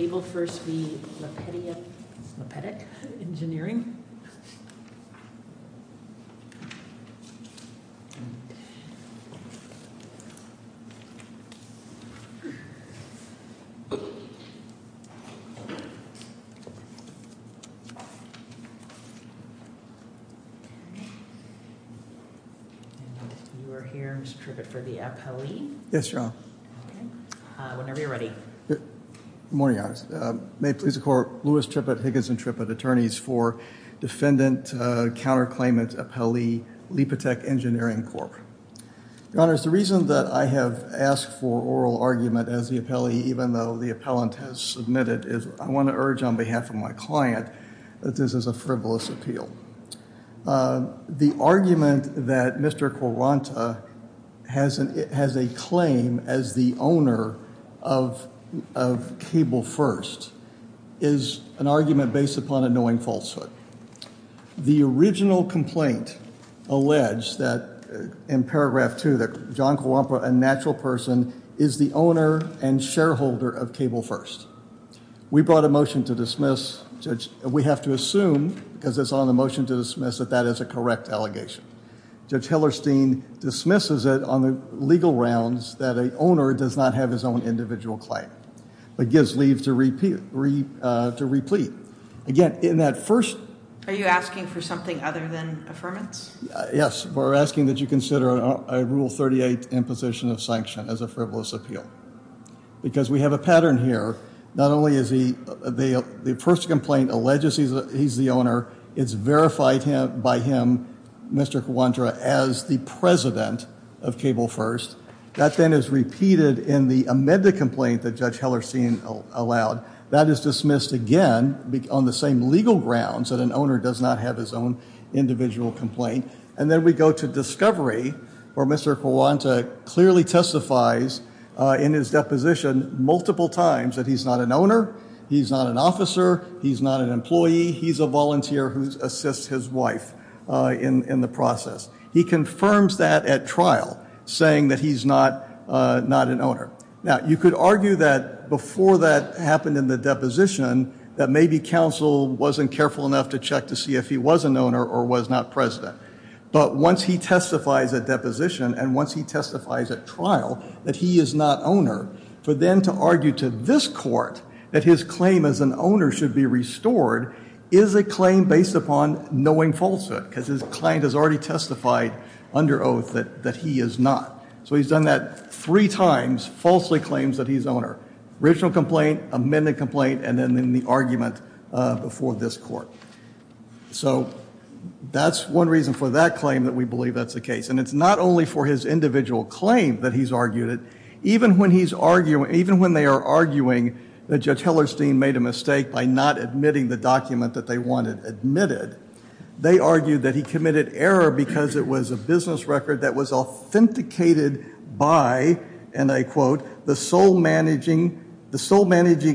Cable First Construction Inc v. Lepetiuk Engineering Corp You are here, Mr. Trippett, for the appellee. Yes, Your Honor. Whenever you're ready. Good morning, Your Honor. May it please the Court, Louis Trippett, Higgins and Trippett, attorneys for defendant, counterclaimant, appellee, Lepetiuk Engineering Corp. Your Honor, the reason that I have asked for oral argument as the appellee, even though the appellant has submitted, is I want to urge on behalf of my client that this is a frivolous appeal. The argument that Mr. Koronta has a claim as the owner of Cable First is an argument based upon a knowing falsehood. The original complaint alleged that in paragraph 2 that John Kuwampa, a natural person, is the owner and shareholder of Cable First. We brought a motion to dismiss. We have to assume, because it's on the motion to dismiss, that that is a correct allegation. Judge Hillerstein dismisses it on the legal rounds that an owner does not have his own individual claim, but gives leave to replete. Again, in that first... Are you asking for something other than affirmance? Yes. We're asking that you consider a Rule 38 imposition of sanction as a frivolous appeal. Because we have a pattern here. Not only is the first complaint alleges he's the owner, it's verified by him, Mr. Kuwampa, as the president of Cable First. That then is repeated in the amended complaint that Judge Hillerstein allowed. That is dismissed again on the same legal grounds that an owner does not have his own individual complaint. And then we go to discovery where Mr. Kuwampa clearly testifies in his deposition multiple times that he's not an owner, he's not an officer, he's not an employee, he's a volunteer who assists his wife in the process. He confirms that at trial saying that he's not an owner. Now, you could argue that before that happened in the deposition that maybe counsel wasn't careful enough to check to see if he was an owner or was not president. But once he testifies at deposition and once he testifies at trial that he is not owner, for them to argue to this court that his claim as an owner should be restored is a claim based upon knowing falsehood. Because his client has already testified under oath that he is not. So he's done that three times, falsely claims that he's owner. Original complaint, amended complaint, and then the argument before this court. So, that's one reason for that claim that we believe that's the case. And it's not only for his individual claim that he's argued it. Even when he's arguing, even when they are arguing that Judge Hellerstein made a mistake by not admitting the document that they wanted admitted, they argued that he committed error because it was a business record that was authenticated by, and I quote, the sole managing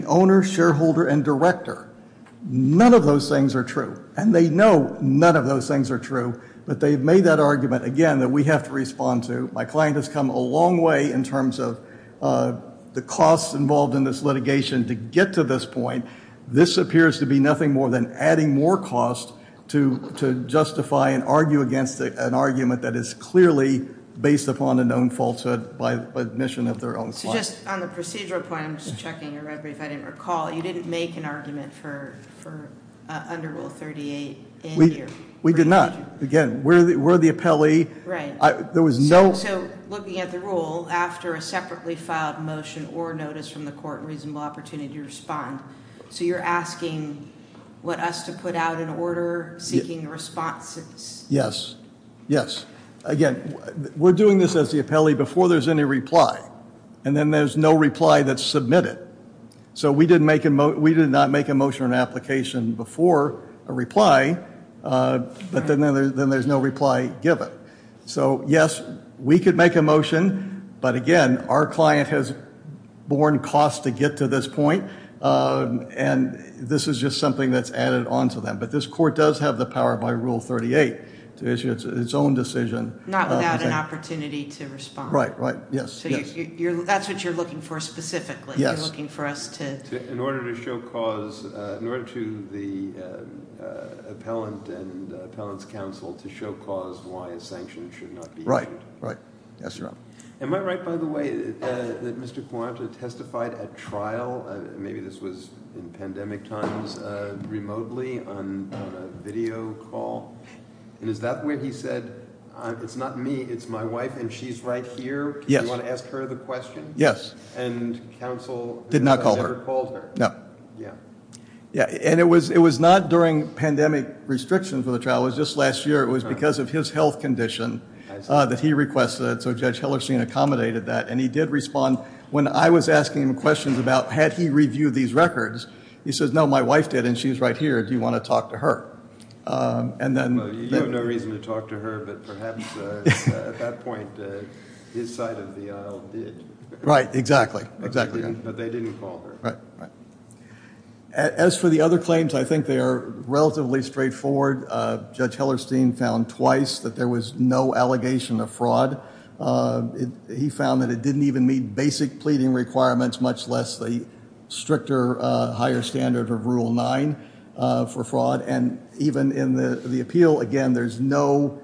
owner, shareholder, and director. None of those things are true. And they know none of those things are true. But they've made that argument again that we have to respond to. My client has come a long way in terms of the costs involved in this litigation to get to this point. This appears to be nothing more than adding more cost to justify and argue against an argument that is clearly based upon a known falsehood by admission of their own client. So just on the procedural point, I'm just checking if I didn't recall, you didn't make an argument for under Rule 38 in your We did not. Again, we're the appellee. Right. So, looking at the rule, after a separately filed motion or notice from the court, reasonable opportunity to respond. So you're asking what us to put out in order seeking responses? Yes. Yes. Again, we're doing this as the appellee before there's any reply. And then there's no reply that's submitted. So we did not make a motion or an application before a reply, but then there's no reply given. So, yes, we could make a motion, but again, our client has borne cost to get to this point. And this is just something that's added on to them. But this court does have the power by Rule 38 to issue its own decision. Not without an opportunity to respond. Right. Right. Yes. That's what you're looking for specifically. In order to show cause in order to the appellant and appellant's counsel to show cause why a sanction should not be issued. Right. Right. Yes, Your Honor. Am I right, by the way, that Mr. Quanta testified at trial? Maybe this was in pandemic times remotely on a video call? And is that where he said, it's not me, it's my wife, and she's right here? Yes. Do you want to ask her the question? Yes. And counsel did not call her? No. Yeah. And it was not during pandemic restrictions for the trial. It was just last year. It was because of his health condition that he requested it. So Judge Hillerstein accommodated that. And he did respond when I was asking him questions about, had he reviewed these records? He says, no, my wife did and she's right here. Do you want to talk to her? And then... You have no reason to talk to her, but perhaps at that point his side of the aisle did. Right. Exactly. Exactly. But they didn't call her. As for the other claims, I think they are relatively straightforward. Judge Hillerstein found twice that there was no allegation of fraud. He found that it didn't even meet basic pleading requirements, much less the stricter higher standard of Rule 9 for fraud. And even in the appeal, again, there's no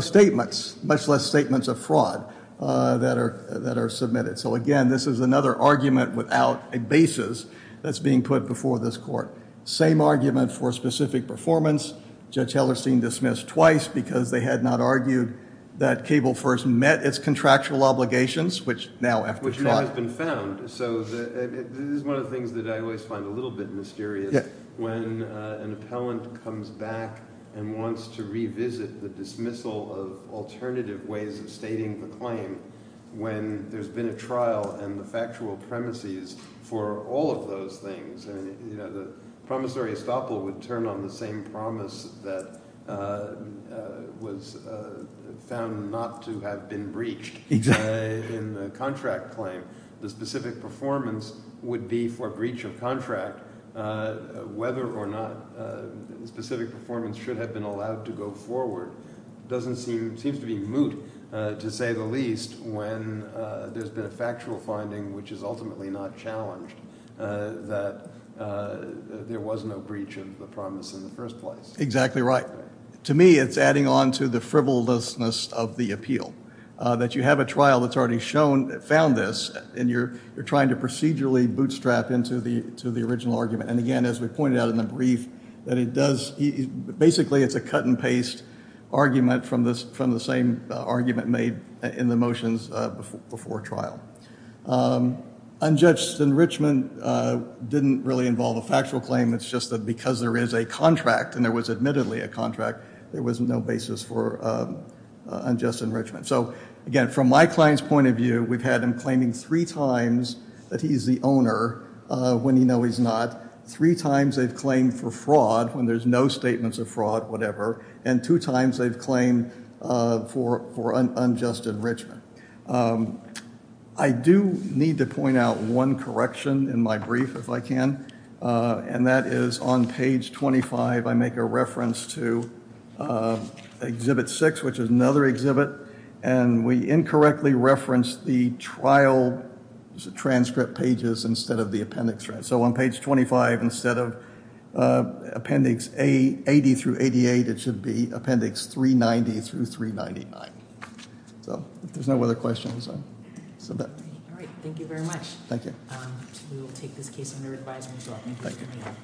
statements, much less statements of fraud that are submitted. So again, this is another argument without a basis that's being put before this court. Same argument for specific performance. Judge Hillerstein dismissed twice because they had not argued that Cable first met its contractual obligations, which now after trial... Which now has been found. So this is one of the things that I always find a little bit mysterious. When an appellant comes back and wants to revisit the dismissal of alternative ways of stating the claim when there's been a trial and the factual premises for all of those things. The promissory estoppel would turn on the same promise that was found not to have been breached in the contract claim. The specific performance would be for breach of contract whether or not specific performance should have been allowed to go forward. It seems to be moot, to say the least, when there's been a factual finding which is ultimately not challenged that there was no breach of the promise in the first place. Exactly right. To me, it's adding on to the frivolousness of the appeal. That you have a trial that's already found this and you're trying to procedurally bootstrap into the original argument. And again, as we pointed out in the brief, basically it's a cut and paste argument from the same argument made in the motions before trial. Unjudged enrichment didn't really involve a factual claim. It's just that because there is a contract, and there was admittedly a contract, there was no basis for unjust enrichment. So again, from my client's point of view, we've had him claiming three times that he's the owner when you know he's not. Three times they've claimed for fraud when there's no statements of fraud, whatever. And two times they've claimed for unjust enrichment. I do need to point out one correction in my brief, if I can. And that is on page 25, I make a reference to exhibit 6, which is another exhibit. And we incorrectly reference the trial transcript pages instead of the appendix. So on page 25, instead of appendix 80 through 88, it should be appendix 390 through 399. So if there's no other questions, I'll submit. Thank you.